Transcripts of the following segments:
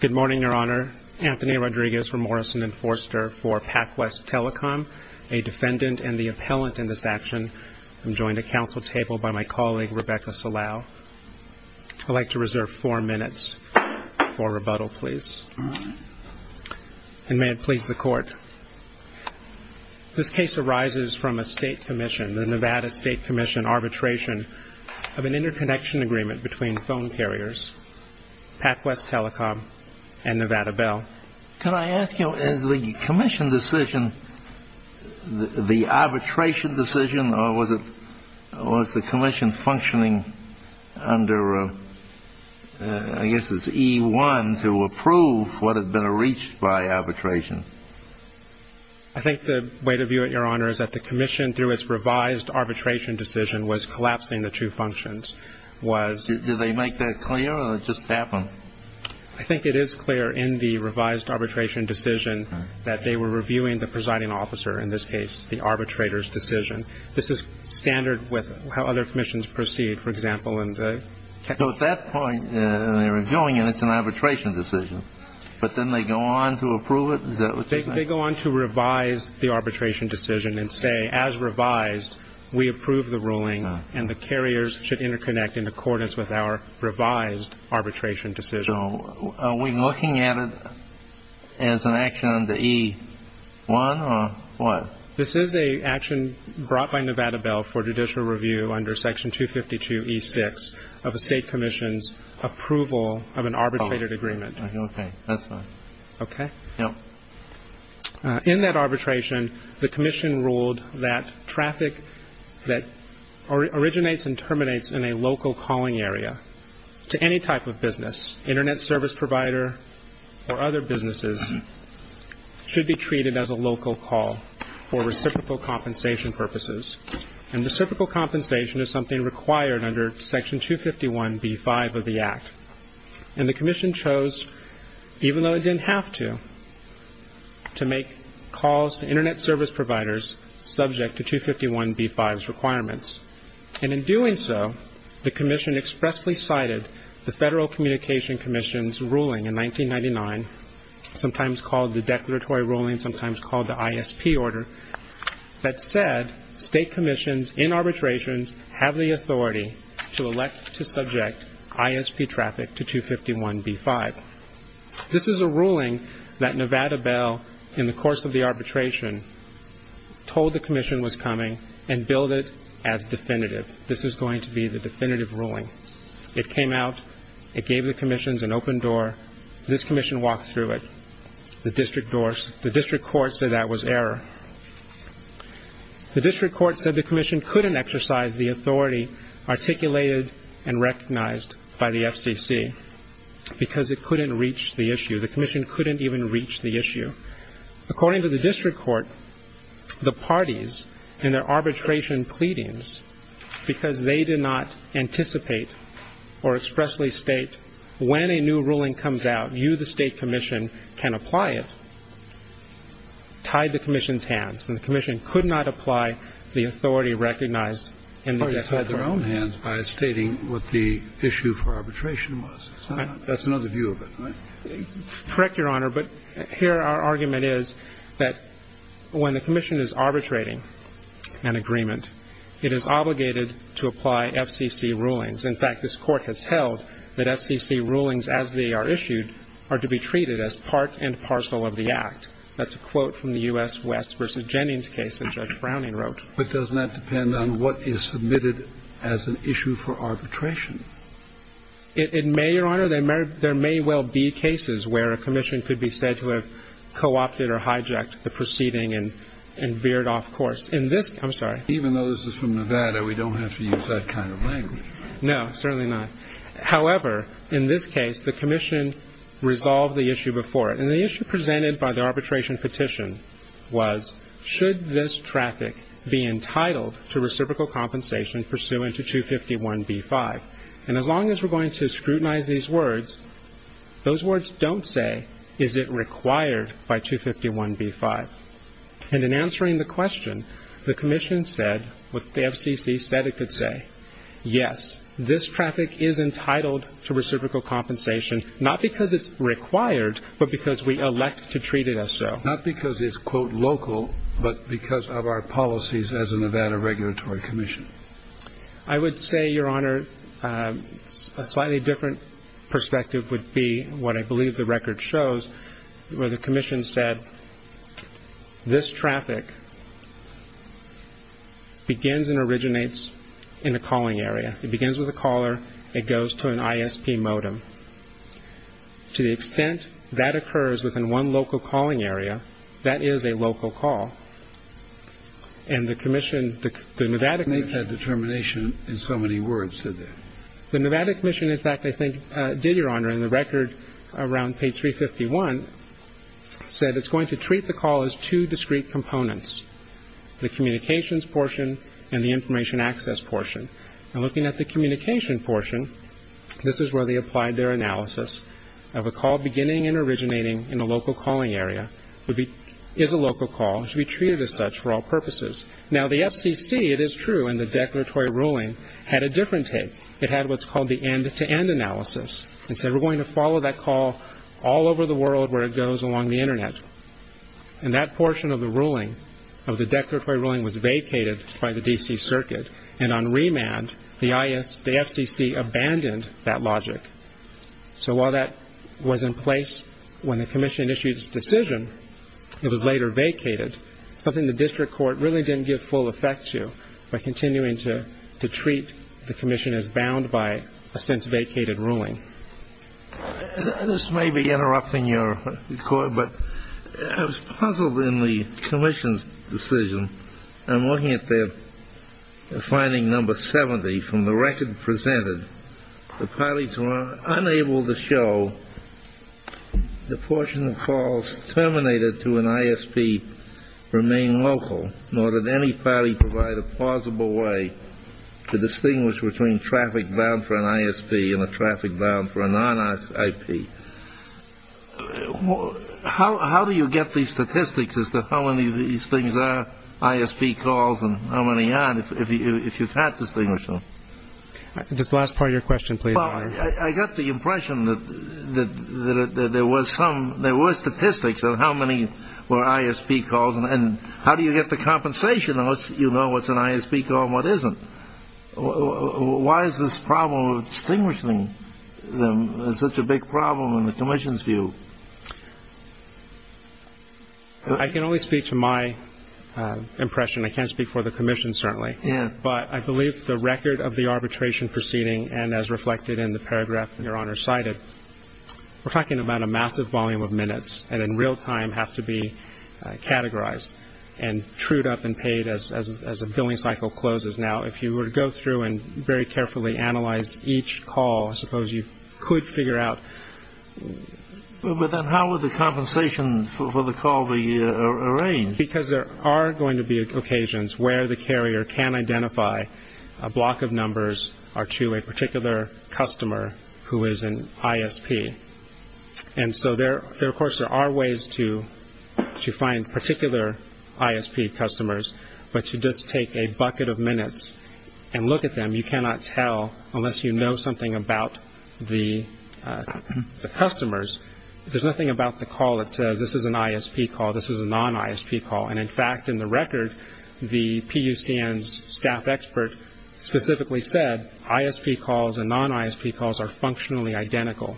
Good morning, Your Honor. Anthony Rodriguez from Morrison & Forster for PacWest Telecom, a defendant and the appellant in this action. I'm joined at counsel table by my colleague, Rebecca Salau. I'd like to reserve four minutes for rebuttal, please. And may it please the Court. This case arises from a state commission, the Nevada State Commission Arbitration, of an interconnection agreement between phone carriers, PacWest Telecom and Nevada Bell. Can I ask you, is the commission decision, the arbitration decision, or was the commission functioning under, I guess it's E-1, to approve what had been reached by arbitration? I think the way to view it, Your Honor, is that the commission, through its revised arbitration decision, was collapsing the two functions. Did they make that clear, or did it just happen? I think it is clear in the revised arbitration decision that they were reviewing the presiding officer, in this case, the arbitrator's decision. This is standard with how other commissions proceed, for example, in the... So at that point, when they're reviewing it, it's an arbitration decision, but then they go on to approve it? Is that what you mean? They go on to revise the arbitration decision and say, as revised, we approve the ruling and the carriers should interconnect in accordance with our revised arbitration decision. So are we looking at it as an action under E-1, or what? This is an action brought by Nevada Bell for judicial review under Section 252 E-6 of a state commission's approval of an arbitrated agreement. Oh, okay. That's fine. Okay? Yep. In that arbitration, the commission ruled that traffic that originates and terminates in a local calling area to any type of business, Internet service provider or other businesses, should be treated as a local call for reciprocal compensation purposes. And reciprocal compensation is something required under Section 251 B-5 of the Act. And the commission chose, even though it didn't have to, to make calls to Internet service providers subject to 251 B-5's requirements. And in doing so, the commission expressly cited the Federal Communication Commission's ruling in 1999, sometimes called the Declaratory Ruling, sometimes called the ISP Order, that said state commissions in arbitrations have the authority to elect to subject ISP traffic to 251 B-5. This is a ruling that Nevada Bell, in the course of the arbitration, told the commission was coming and billed it as definitive. This is going to be the definitive ruling. It came out. It gave the commissions an open door. This commission walked through it. The district court said that was error. The district court said the commission couldn't exercise the authority articulated and recognized by the FCC because it couldn't reach the issue. The commission couldn't even reach the issue. According to the district court, the parties in their arbitration pleadings, because they did not anticipate or expressly state when a new ruling comes out, you, the state commission, can apply it, tied the commission's hands, and the commission could not apply the authority recognized in the district court. The parties tied their own hands by stating what the issue for arbitration was. That's another view of it, right? Correct, Your Honor, but here our argument is that when the commission is arbitrating an agreement, it is obligated to apply FCC rulings. In fact, this Court has held that FCC rulings as they are issued are to be treated as part and parcel of the Act. That's a quote from the U.S. West v. Jennings case that Judge Browning wrote. But doesn't that depend on what is submitted as an issue for arbitration? It may, Your Honor. There may well be cases where a commission could be said to have co-opted or hijacked the proceeding and veered off course. Even though this is from Nevada, we don't have to use that kind of language. No, certainly not. However, in this case, the commission resolved the issue before it, and the issue presented by the arbitration petition was, should this traffic be entitled to reciprocal compensation pursuant to 251b-5? And as long as we're going to scrutinize these words, those words don't say, is it required by 251b-5? And in answering the question, the commission said what the FCC said it could say. Yes, this traffic is entitled to reciprocal compensation, not because it's required, but because we elect to treat it as so. Not because it's, quote, local, but because of our policies as a Nevada regulatory commission. I would say, Your Honor, a slightly different perspective would be what I believe the record shows, where the commission said this traffic begins and originates in a calling area. It begins with a caller. It goes to an ISP modem. To the extent that occurs within one local calling area, that is a local call. And the commission, the Nevada commission ---- I didn't make that determination in so many words, did I? The Nevada commission, in fact, I think did, Your Honor, in the record around page 351, said it's going to treat the call as two discrete components, the communications portion and the information access portion. And looking at the communication portion, this is where they applied their analysis of a call beginning and originating in a local calling area. It is a local call. It should be treated as such for all purposes. Now, the FCC, it is true in the declaratory ruling, had a different take. It had what's called the end-to-end analysis and said we're going to follow that call all over the world where it goes along the Internet. And that portion of the ruling, of the declaratory ruling, was vacated by the D.C. Circuit. And on remand, the FCC abandoned that logic. So while that was in place when the commission issued its decision, it was later vacated, something the district court really didn't give full effect to by continuing to treat the commission as bound by a since-vacated ruling. This may be interrupting your record, but I was puzzled in the commission's decision. I'm looking at their finding number 70 from the record presented. The parties were unable to show the portion of calls terminated through an ISP remain local, nor did any party provide a plausible way to distinguish between traffic bound for an ISP and a traffic bound for a non-ISP. How do you get these statistics as to how many of these things are ISP calls and how many aren't if you can't distinguish them? This is the last part of your question, please. I got the impression that there were statistics on how many were ISP calls and how do you get the compensation unless you know what's an ISP call and what isn't. Why is this problem of distinguishing them such a big problem in the commission's view? I can only speak to my impression. I can't speak for the commission, certainly. But I believe the record of the arbitration proceeding and as reflected in the paragraph Your Honor cited, we're talking about a massive volume of minutes that in real time have to be categorized and trued up and paid as a billing cycle closes. Now, if you were to go through and very carefully analyze each call, I suppose you could figure out... But then how would the compensation for the call be arranged? Because there are going to be occasions where the carrier can identify a block of numbers or to a particular customer who is an ISP. And so, of course, there are ways to find particular ISP customers, but you just take a bucket of minutes and look at them. You cannot tell unless you know something about the customers. There's nothing about the call that says this is an ISP call, this is a non-ISP call. And, in fact, in the record, the PUCN's staff expert specifically said ISP calls and non-ISP calls are functionally identical.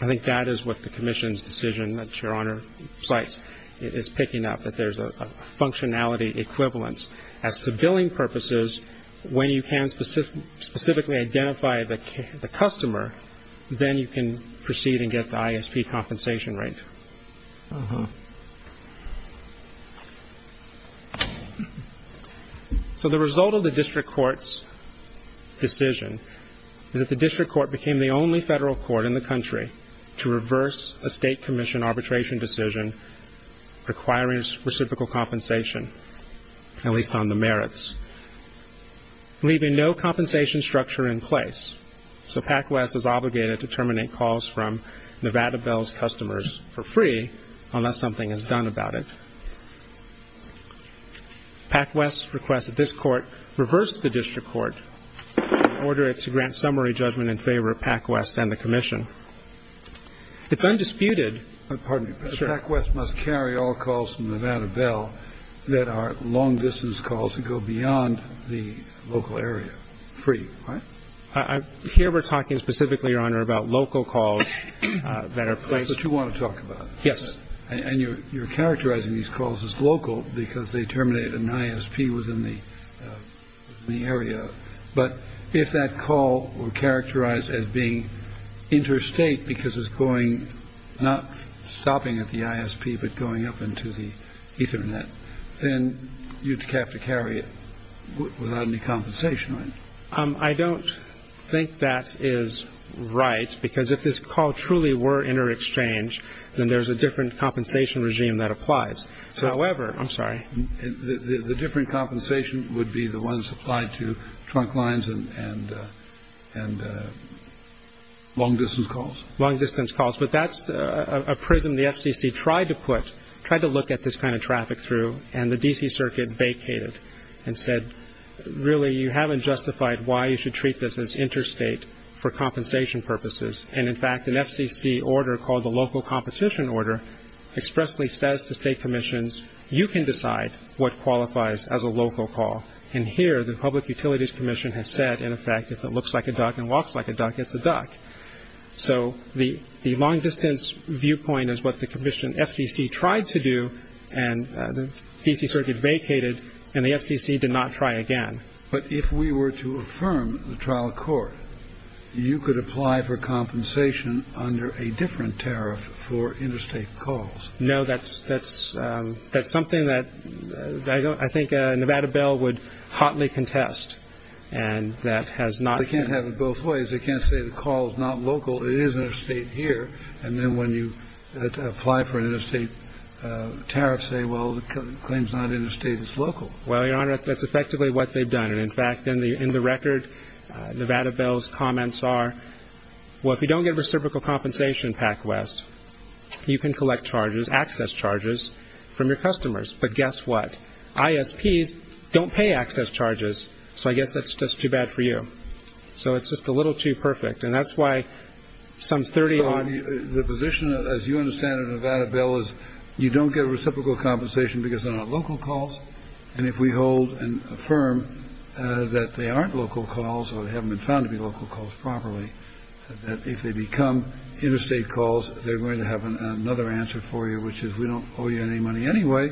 I think that is what the commission's decision that Your Honor cites is picking up, that there's a functionality equivalence. As to billing purposes, when you can specifically identify the customer, then you can proceed and get the ISP compensation rate. So the result of the district court's decision is that the district court became the only federal court in the country to reverse a state commission arbitration decision requiring reciprocal compensation, at least on the merits, leaving no compensation structure in place. So PACWEST is obligated to terminate calls from Nevada Bell's customers for free unless something is done about it. PACWEST requests that this court reverse the district court and order it to grant summary judgment in favor of PACWEST and the commission. It's undisputed. Pardon me, but PACWEST must carry all calls from Nevada Bell that are long-distance calls that go beyond the local area free, right? Here we're talking specifically, Your Honor, about local calls that are placed. That's what you want to talk about. Yes. And you're characterizing these calls as local because they terminate an ISP within the area. But if that call were characterized as being interstate because it's going, not stopping at the ISP but going up into the Ethernet, then you'd have to carry it without any compensation, right? I don't think that is right because if this call truly were inter-exchange, then there's a different compensation regime that applies. However, I'm sorry. The different compensation would be the ones applied to trunk lines and long-distance calls? Long-distance calls. But that's a prism the FCC tried to put, tried to look at this kind of traffic through, and the D.C. Circuit vacated and said, really you haven't justified why you should treat this as interstate for compensation purposes. And, in fact, an FCC order called the Local Competition Order expressly says to state commissions, you can decide what qualifies as a local call. And here the Public Utilities Commission has said, in effect, if it looks like a duck and walks like a duck, it's a duck. So the long-distance viewpoint is what the FCC tried to do, and the D.C. Circuit vacated and the FCC did not try again. But if we were to affirm the trial court, you could apply for compensation under a different tariff for interstate calls? No, that's something that I think a Nevada bill would hotly contest, and that has not been. They can't have it both ways. They can't say the call is not local, it is interstate here, and then when you apply for an interstate tariff, say, well, the claim is not interstate, it's local. Well, Your Honor, that's effectively what they've done. And, in fact, in the record, Nevada bill's comments are, well, if you don't get reciprocal compensation, PacWest, you can collect charges, access charges, from your customers. But guess what? ISPs don't pay access charges, so I guess that's just too bad for you. So it's just a little too perfect. And that's why some 30 odd ---- But the position, as you understand it, Nevada bill, is you don't get reciprocal compensation because they're not local calls. And if we hold and affirm that they aren't local calls, or they haven't been found to be local calls properly, that if they become interstate calls, they're going to have another answer for you, which is we don't owe you any money anyway,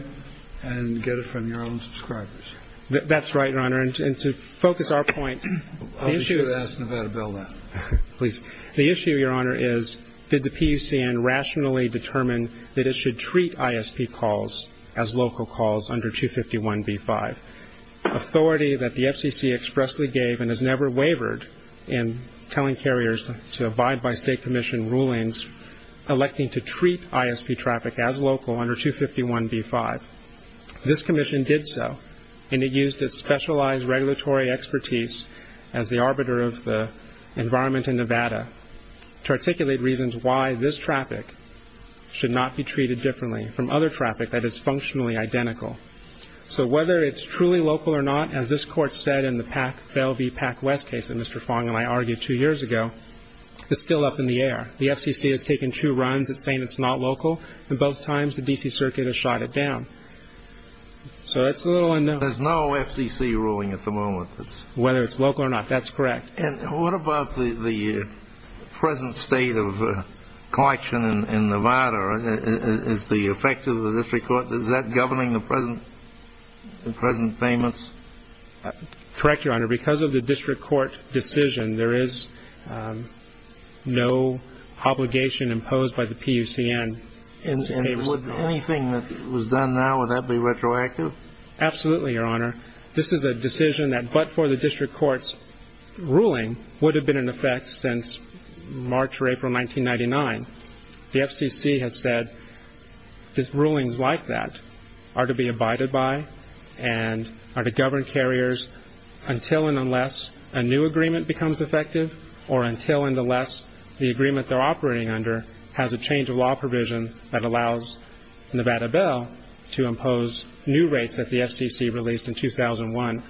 and get it from your own subscribers. That's right, Your Honor. And to focus our point, the issue is ---- Please. The issue, Your Honor, is did the PUCN rationally determine that it should treat ISP calls as local calls under 251b-5, authority that the FCC expressly gave and has never wavered in telling carriers to abide by state commission rulings electing to treat ISP traffic as local under 251b-5. This commission did so, and it used its specialized regulatory expertise as the arbiter of the environment in Nevada to articulate reasons why this traffic should not be treated differently from other traffic that is functionally identical. So whether it's truly local or not, as this Court said in the PAC-Velle v. PAC-West case that Mr. Fong and I argued two years ago, is still up in the air. The FCC has taken two runs at saying it's not local, and both times the D.C. Circuit has shot it down. So it's a little unknown. There's no FCC ruling at the moment. Whether it's local or not, that's correct. And what about the present state of collection in Nevada? Is that governing the present payments? Correct, Your Honor. Because of the district court decision, there is no obligation imposed by the PUCN. And would anything that was done now, would that be retroactive? Absolutely, Your Honor. This is a decision that, but for the district court's ruling, would have been in effect since March or April 1999. The FCC has said that rulings like that are to be abided by and are to govern carriers until and unless a new agreement becomes effective or until and unless the agreement they're operating under has a change of law provision that allows Nevada Bell to impose new rates that the FCC released in 2001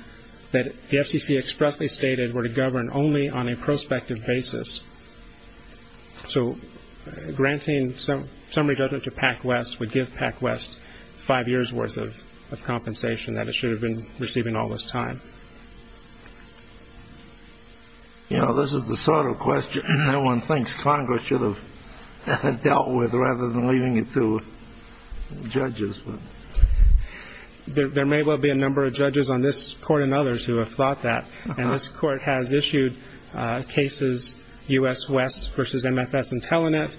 that the FCC expressly stated were to govern only on a prospective basis. So granting some redundant to PacWest would give PacWest five years' worth of compensation that it should have been receiving all this time. But, you know, this is the sort of question no one thinks Congress should have dealt with rather than leaving it to judges. There may well be a number of judges on this Court and others who have thought that. And this Court has issued cases, U.S. West v. MFS and Telenet,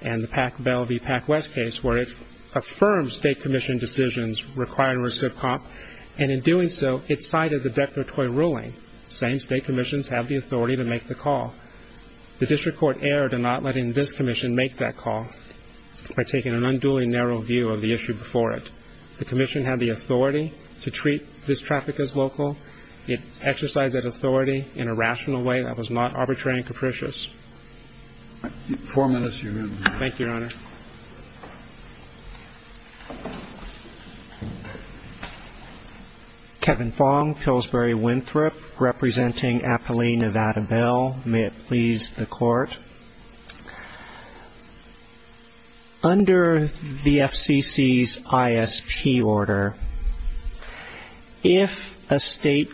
and the Bell v. PacWest case where it affirms state commission decisions required to receive comp. And in doing so, it cited the declaratory ruling saying state commissions have the authority to make the call. The district court erred in not letting this commission make that call by taking an unduly narrow view of the issue before it. The commission had the authority to treat this traffic as local. It exercised that authority in a rational way that was not arbitrary and capricious. Four minutes, Your Honor. Thank you, Your Honor. Kevin Fong, Pillsbury Winthrop, representing Apolli, Nevada Bell. May it please the Court. Under the FCC's ISP order, if a state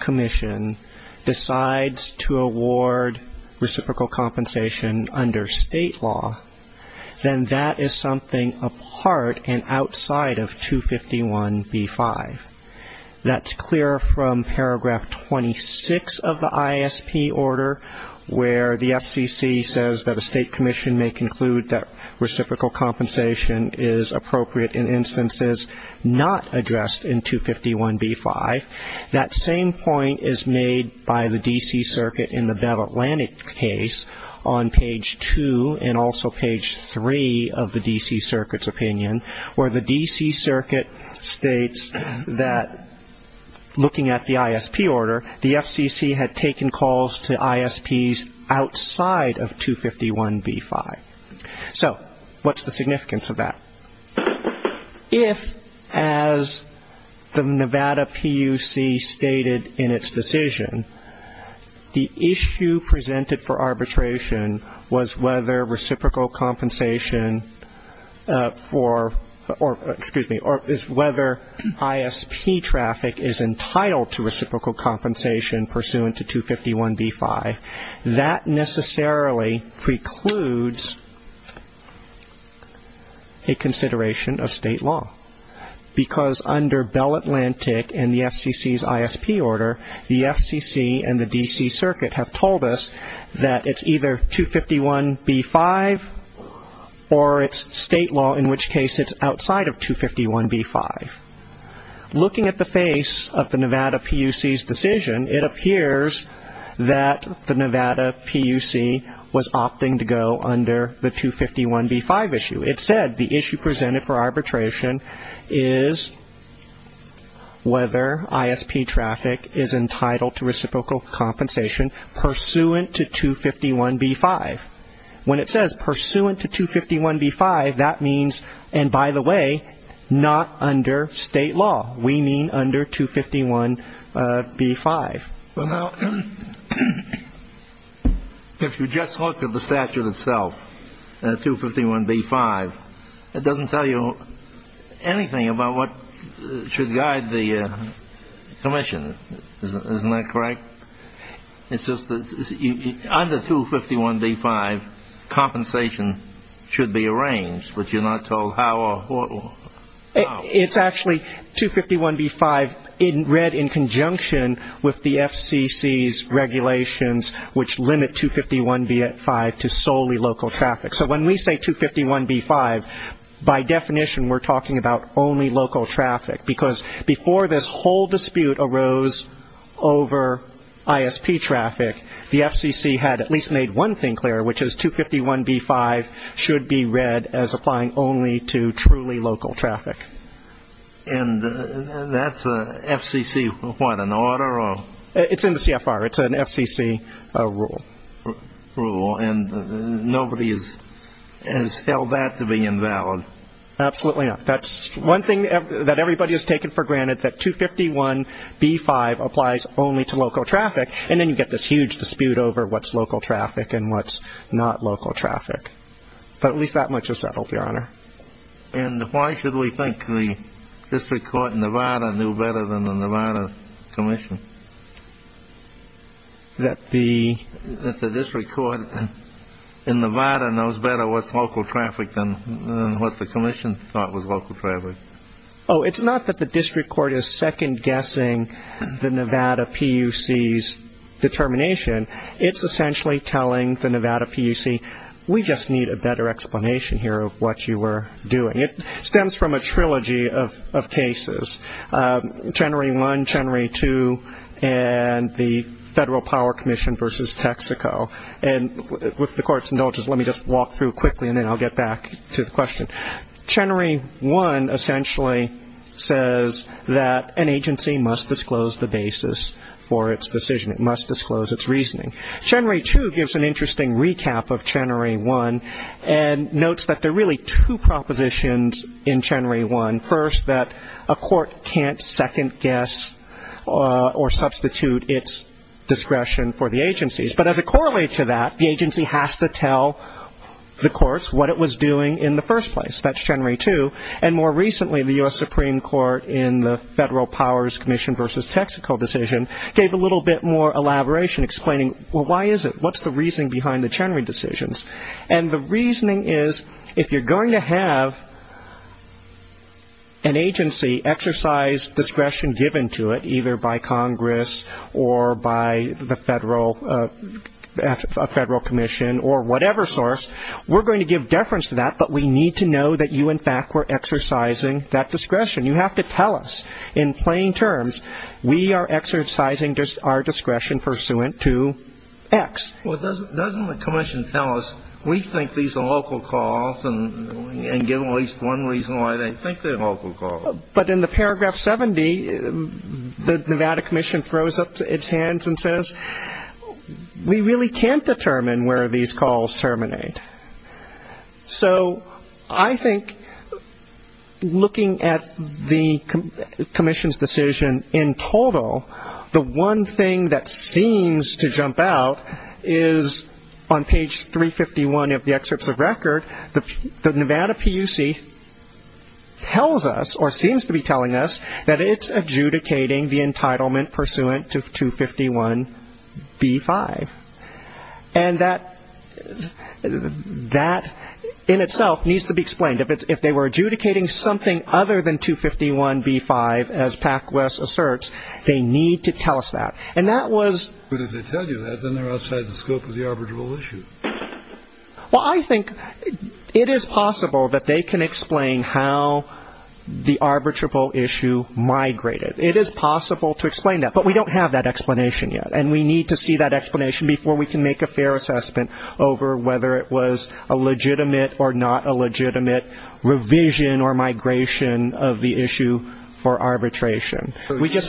commission decides to award reciprocal compensation under state law, then that is something apart and outside of 251b-5. That's clear from paragraph 26 of the ISP order where the FCC says that a state commission may conclude that reciprocal compensation is appropriate in instances not addressed in 251b-5. That same point is made by the D.C. Circuit in the Bell Atlantic case on page 2 and also page 3 of the D.C. Circuit's opinion, where the D.C. Circuit states that looking at the ISP order, the FCC had taken calls to ISPs outside of 251b-5. So what's the significance of that? If, as the Nevada PUC stated in its decision, the issue presented for arbitration was whether reciprocal compensation for or, excuse me, whether ISP traffic is entitled to reciprocal compensation pursuant to 251b-5, that necessarily precludes a consideration of state law because under Bell Atlantic and the FCC's ISP order, the FCC and the D.C. Circuit have told us that it's either 251b-5 or it's state law, in which case it's outside of 251b-5. Looking at the face of the Nevada PUC's decision, it appears that the Nevada PUC was opting to go under the 251b-5 issue. It said the issue presented for arbitration is whether ISP traffic is entitled to reciprocal compensation pursuant to 251b-5. When it says pursuant to 251b-5, that means, and by the way, not under state law. We mean under 251b-5. Well, now, if you just look at the statute itself, 251b-5, it doesn't tell you anything about what should guide the commission. Isn't that correct? It's just that under 251b-5, compensation should be arranged, but you're not told how or what. It's actually 251b-5 read in conjunction with the FCC's regulations, which limit 251b-5 to solely local traffic. So when we say 251b-5, by definition, we're talking about only local traffic because before this whole dispute arose over ISP traffic, the FCC had at least made one thing clear, which is 251b-5 should be read as applying only to truly local traffic. And that's FCC what, an order? It's in the CFR. It's an FCC rule. Rule. And nobody has held that to be invalid. Absolutely not. That's one thing that everybody has taken for granted, that 251b-5 applies only to local traffic, and then you get this huge dispute over what's local traffic and what's not local traffic. But at least that much is settled, Your Honor. And why should we think the district court in Nevada knew better than the Nevada commission? That the district court in Nevada knows better what's local traffic than what the commission thought was local traffic. Oh, it's not that the district court is second-guessing the Nevada PUC's determination. It's essentially telling the Nevada PUC, we just need a better explanation here of what you were doing. It stems from a trilogy of cases, January 1, January 2, and the Federal Power Commission versus Texaco. With the Court's indulgence, let me just walk through quickly, and then I'll get back to the question. January 1 essentially says that an agency must disclose the basis for its decision. It must disclose its reasoning. January 2 gives an interesting recap of January 1 and notes that there are really two propositions in January 1. First, that a court can't second-guess or substitute its discretion for the agencies. But as it correlates to that, the agency has to tell the courts what it was doing in the first place. That's January 2. And more recently, the U.S. Supreme Court in the Federal Powers Commission versus Texaco decision gave a little bit more elaboration explaining, well, why is it? What's the reasoning behind the January decisions? And the reasoning is, if you're going to have an agency exercise discretion given to it, either by Congress or by the Federal Commission or whatever source, we're going to give deference to that, but we need to know that you, in fact, were exercising that discretion. You have to tell us in plain terms, we are exercising our discretion pursuant to X. Well, doesn't the commission tell us, we think these are local calls and give them at least one reason why they think they're local calls? But in the paragraph 70, the Nevada commission throws up its hands and says, we really can't determine where these calls terminate. So I think looking at the commission's decision in total, the one thing that seems to jump out is on page 351 of the excerpts of record, the Nevada PUC tells us, or seems to be telling us, that it's adjudicating the entitlement pursuant to 251b-5. And that in itself needs to be explained. If they were adjudicating something other than 251b-5, as PacWest asserts, they need to tell us that. But if they tell you that, then they're outside the scope of the arbitrable issue. Well, I think it is possible that they can explain how the arbitrable issue migrated. It is possible to explain that, but we don't have that explanation yet. And we need to see that explanation before we can make a fair assessment over whether it was a legitimate or not a legitimate revision or migration of the issue for arbitration. Would you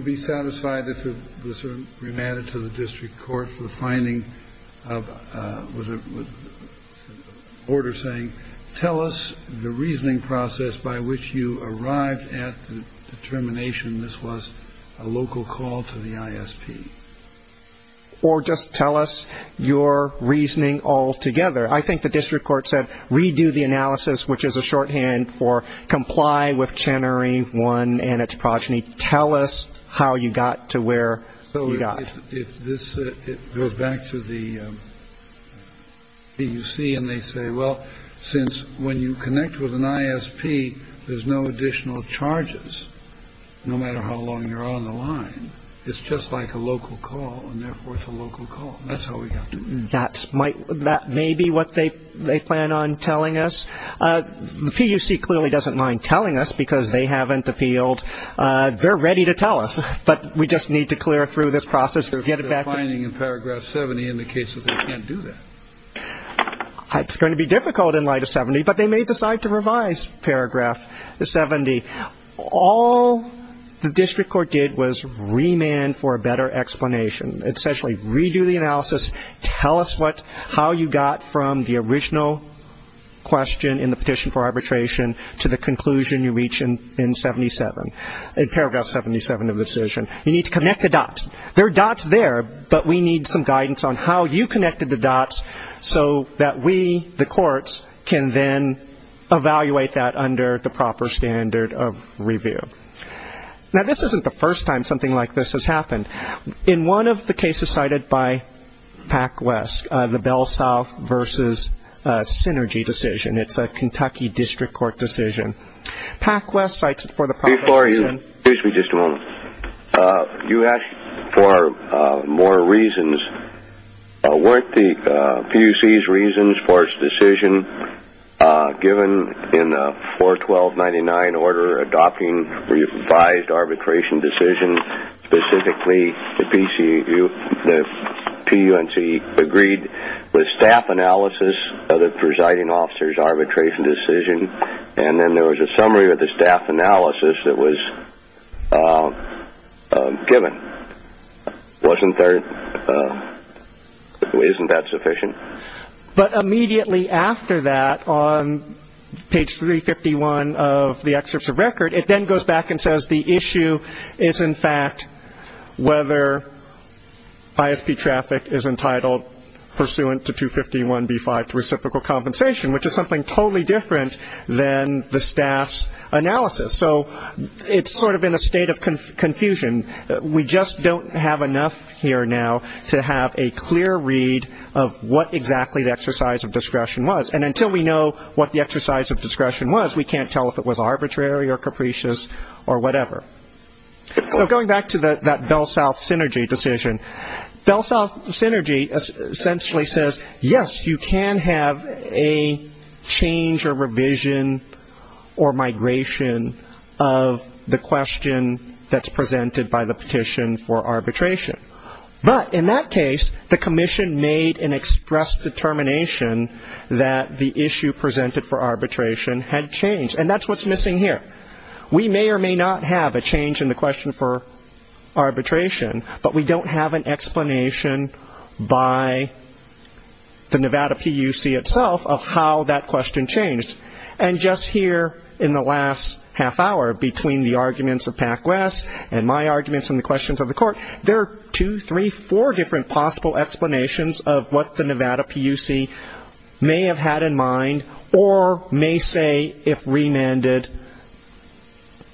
be satisfied if this were remanded to the district court for the finding of the order saying, tell us the reasoning process by which you arrived at the determination this was a local call to the ISP? Or just tell us your reasoning altogether. I think the district court said, redo the analysis, which is a shorthand for comply with Chenery I and its progeny. Tell us how you got to where you got. So if this goes back to the PUC and they say, well, since when you connect with an ISP, there's no additional charges no matter how long you're on the line. It's just like a local call, and therefore it's a local call. That's how we got to it. That may be what they plan on telling us. The PUC clearly doesn't mind telling us because they haven't appealed. They're ready to tell us, but we just need to clear through this process to get it back. The finding in paragraph 70 indicates that they can't do that. It's going to be difficult in light of 70, but they may decide to revise paragraph 70. All the district court did was remand for a better explanation, essentially redo the analysis, tell us how you got from the original question in the petition for arbitration to the conclusion you reach in 77, in paragraph 77 of the decision. You need to connect the dots. There are dots there, but we need some guidance on how you connected the dots so that we, the courts, can then evaluate that under the proper standard of review. Now, this isn't the first time something like this has happened. In one of the cases cited by PacWest, the Bell South versus Synergy decision, it's a Kentucky district court decision. PacWest cites it for the population. Before you, excuse me just a moment. You asked for more reasons. Weren't the PUC's reasons for its decision given in the 41299 order adopting revised arbitration decision specifically the PUNC agreed with staff analysis of the presiding officer's arbitration decision, and then there was a summary of the staff analysis that was given. Wasn't there, isn't that sufficient? But immediately after that, on page 351 of the excerpts of record, it then goes back and says the issue is, in fact, whether ISP traffic is entitled pursuant to 251b-5 to reciprocal compensation, which is something totally different than the staff's analysis. So it's sort of in a state of confusion. We just don't have enough here now to have a clear read of what exactly the exercise of discretion was. And until we know what the exercise of discretion was, we can't tell if it was arbitrary or capricious or whatever. So going back to that BellSouth Synergy decision, BellSouth Synergy essentially says, yes, you can have a change or revision or migration of the question that's presented by the petition for arbitration. But in that case, the commission made an express determination that the issue presented for arbitration had changed, and that's what's missing here. We may or may not have a change in the question for arbitration, but we don't have an explanation by the Nevada PUC itself of how that question changed. And just here in the last half hour between the arguments of PAC-WES and my arguments and the questions of the court, there are two, three, four different possible explanations of what the Nevada PUC may have had in mind or may say if remanded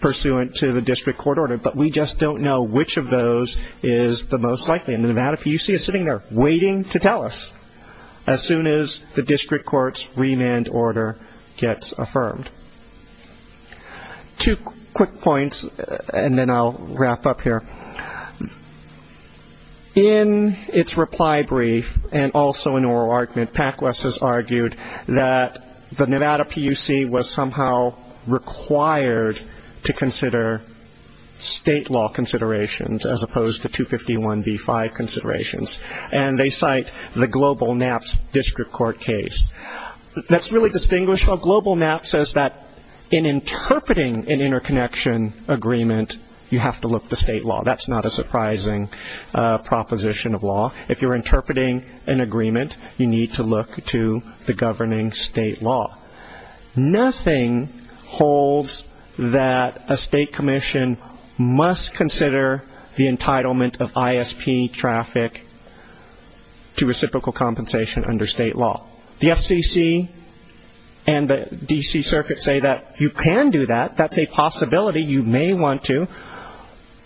pursuant to the district court order, but we just don't know which of those is the most likely. And the Nevada PUC is sitting there waiting to tell us as soon as the district court's remand order gets affirmed. Two quick points, and then I'll wrap up here. In its reply brief and also in oral argument, PAC-WES has argued that the Nevada PUC was somehow required to consider state law considerations as opposed to 251b-5 considerations, and they cite the global NAPS district court case. That's really distinguished. A global NAPS says that in interpreting an interconnection agreement, you have to look to state law. That's not a surprising proposition of law. If you're interpreting an agreement, you need to look to the governing state law. Nothing holds that a state commission must consider the entitlement of ISP traffic to reciprocal compensation under state law. The FCC and the D.C. Circuit say that you can do that. That's a possibility. You may want to.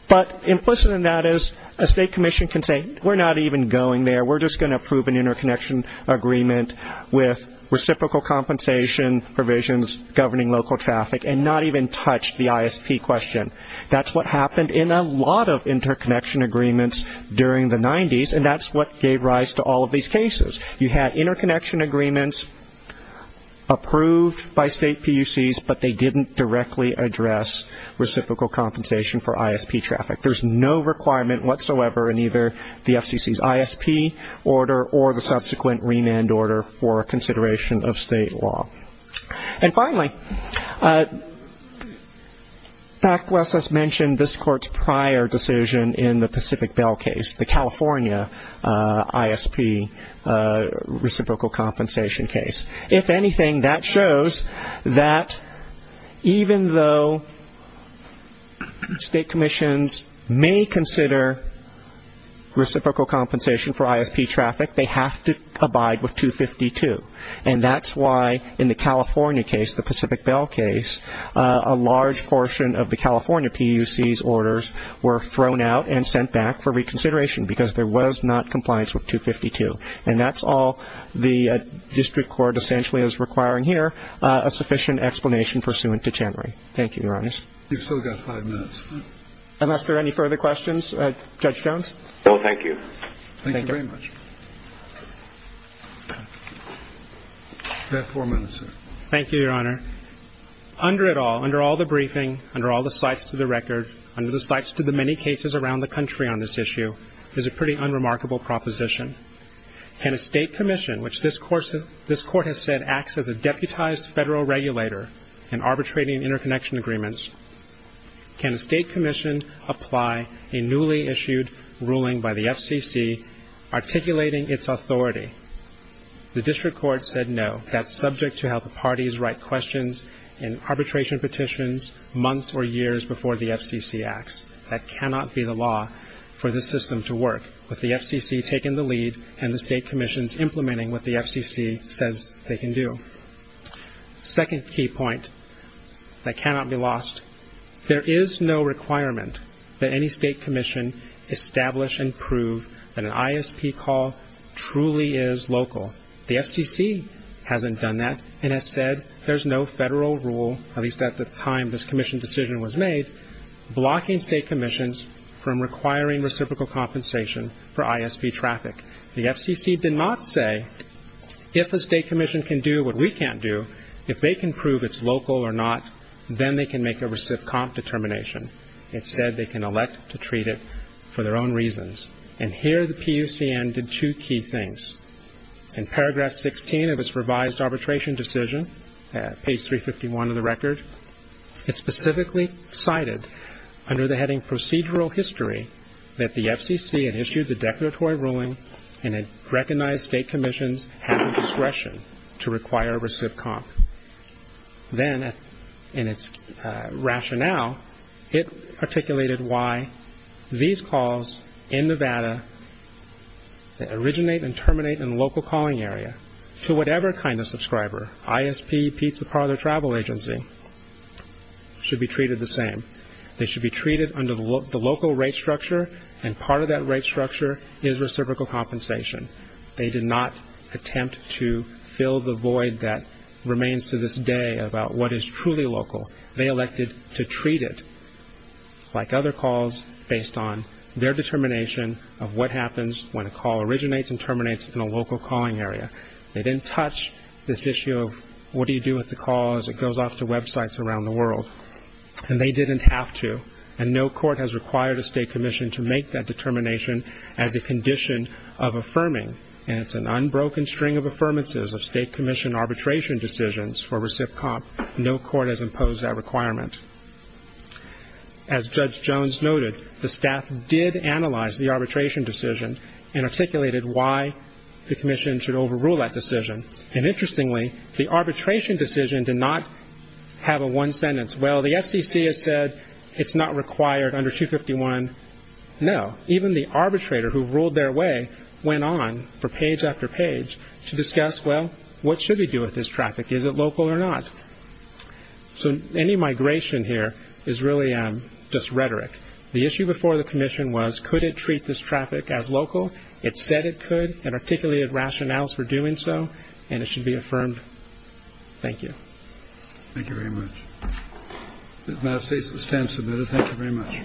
But implicit in that is a state commission can say we're not even going there. We're just going to approve an interconnection agreement with reciprocal compensation provisions governing local traffic and not even touch the ISP question. That's what happened in a lot of interconnection agreements during the 90s, and that's what gave rise to all of these cases. You had interconnection agreements approved by state PUCs, but they didn't directly address reciprocal compensation for ISP traffic. There's no requirement whatsoever in either the FCC's ISP order or the subsequent remand order for consideration of state law. And finally, Backless has mentioned this court's prior decision in the Pacific Bell case, the California ISP reciprocal compensation case. If anything, that shows that even though state commissions may consider reciprocal compensation for ISP traffic, they have to abide with 252. And that's why in the California case, the Pacific Bell case, a large portion of the California PUC's orders were thrown out and sent back for reconsideration because there was not compliance with 252. And that's all the district court essentially is requiring here, a sufficient explanation pursuant to January. Thank you, Your Honors. You've still got five minutes. Unless there are any further questions, Judge Jones? No, thank you. Thank you very much. You have four minutes, sir. Thank you, Your Honor. Under it all, under all the briefing, under all the sites to the record, under the sites to the many cases around the country on this issue, there's a pretty unremarkable proposition. Can a state commission, which this court has said acts as a deputized federal regulator in arbitrating interconnection agreements, can a state commission apply a newly issued ruling by the FCC articulating its authority? The district court said no. That's subject to how the parties write questions in arbitration petitions months or years before the FCC acts. That cannot be the law for this system to work with the FCC taking the lead and the state commissions implementing what the FCC says they can do. Second key point that cannot be lost, there is no requirement that any state commission establish and prove that an ISP call truly is local. The FCC hasn't done that and has said there's no federal rule, at least at the time this commission decision was made, blocking state commissions from requiring reciprocal compensation for ISP traffic. The FCC did not say if a state commission can do what we can't do, if they can prove it's local or not, then they can make a recip comp determination. It said they can elect to treat it for their own reasons. And here the PUCN did two key things. In paragraph 16 of its revised arbitration decision, page 351 of the record, it specifically cited under the heading procedural history that the FCC had issued the declaratory ruling and had recognized state commissions having discretion to require recip comp. Then in its rationale, it articulated why these calls in Nevada that originate and terminate in a local calling area to whatever kind of subscriber, ISP, pizza parlor, travel agency, should be treated the same. They should be treated under the local rate structure and part of that rate structure is reciprocal compensation. They did not attempt to fill the void that remains to this day about what is truly local. They elected to treat it like other calls based on their determination of what happens when a call originates and terminates in a local calling area. They didn't touch this issue of what do you do with the call as it goes off to websites around the world. And they didn't have to. And no court has required a state commission to make that determination as a condition of affirming. And it's an unbroken string of affirmances of state commission arbitration decisions for recip comp. No court has imposed that requirement. As Judge Jones noted, the staff did analyze the arbitration decision and articulated why the commission should overrule that decision. And interestingly, the arbitration decision did not have a one sentence. Well, the FCC has said it's not required under 251. No, even the arbitrator who ruled their way went on for page after page to discuss, well, what should we do with this traffic? Is it local or not? So any migration here is really just rhetoric. The issue before the commission was could it treat this traffic as local? It said it could and articulated rationales for doing so, and it should be affirmed. Thank you. Thank you very much. If I may stand submitted. Thank you very much.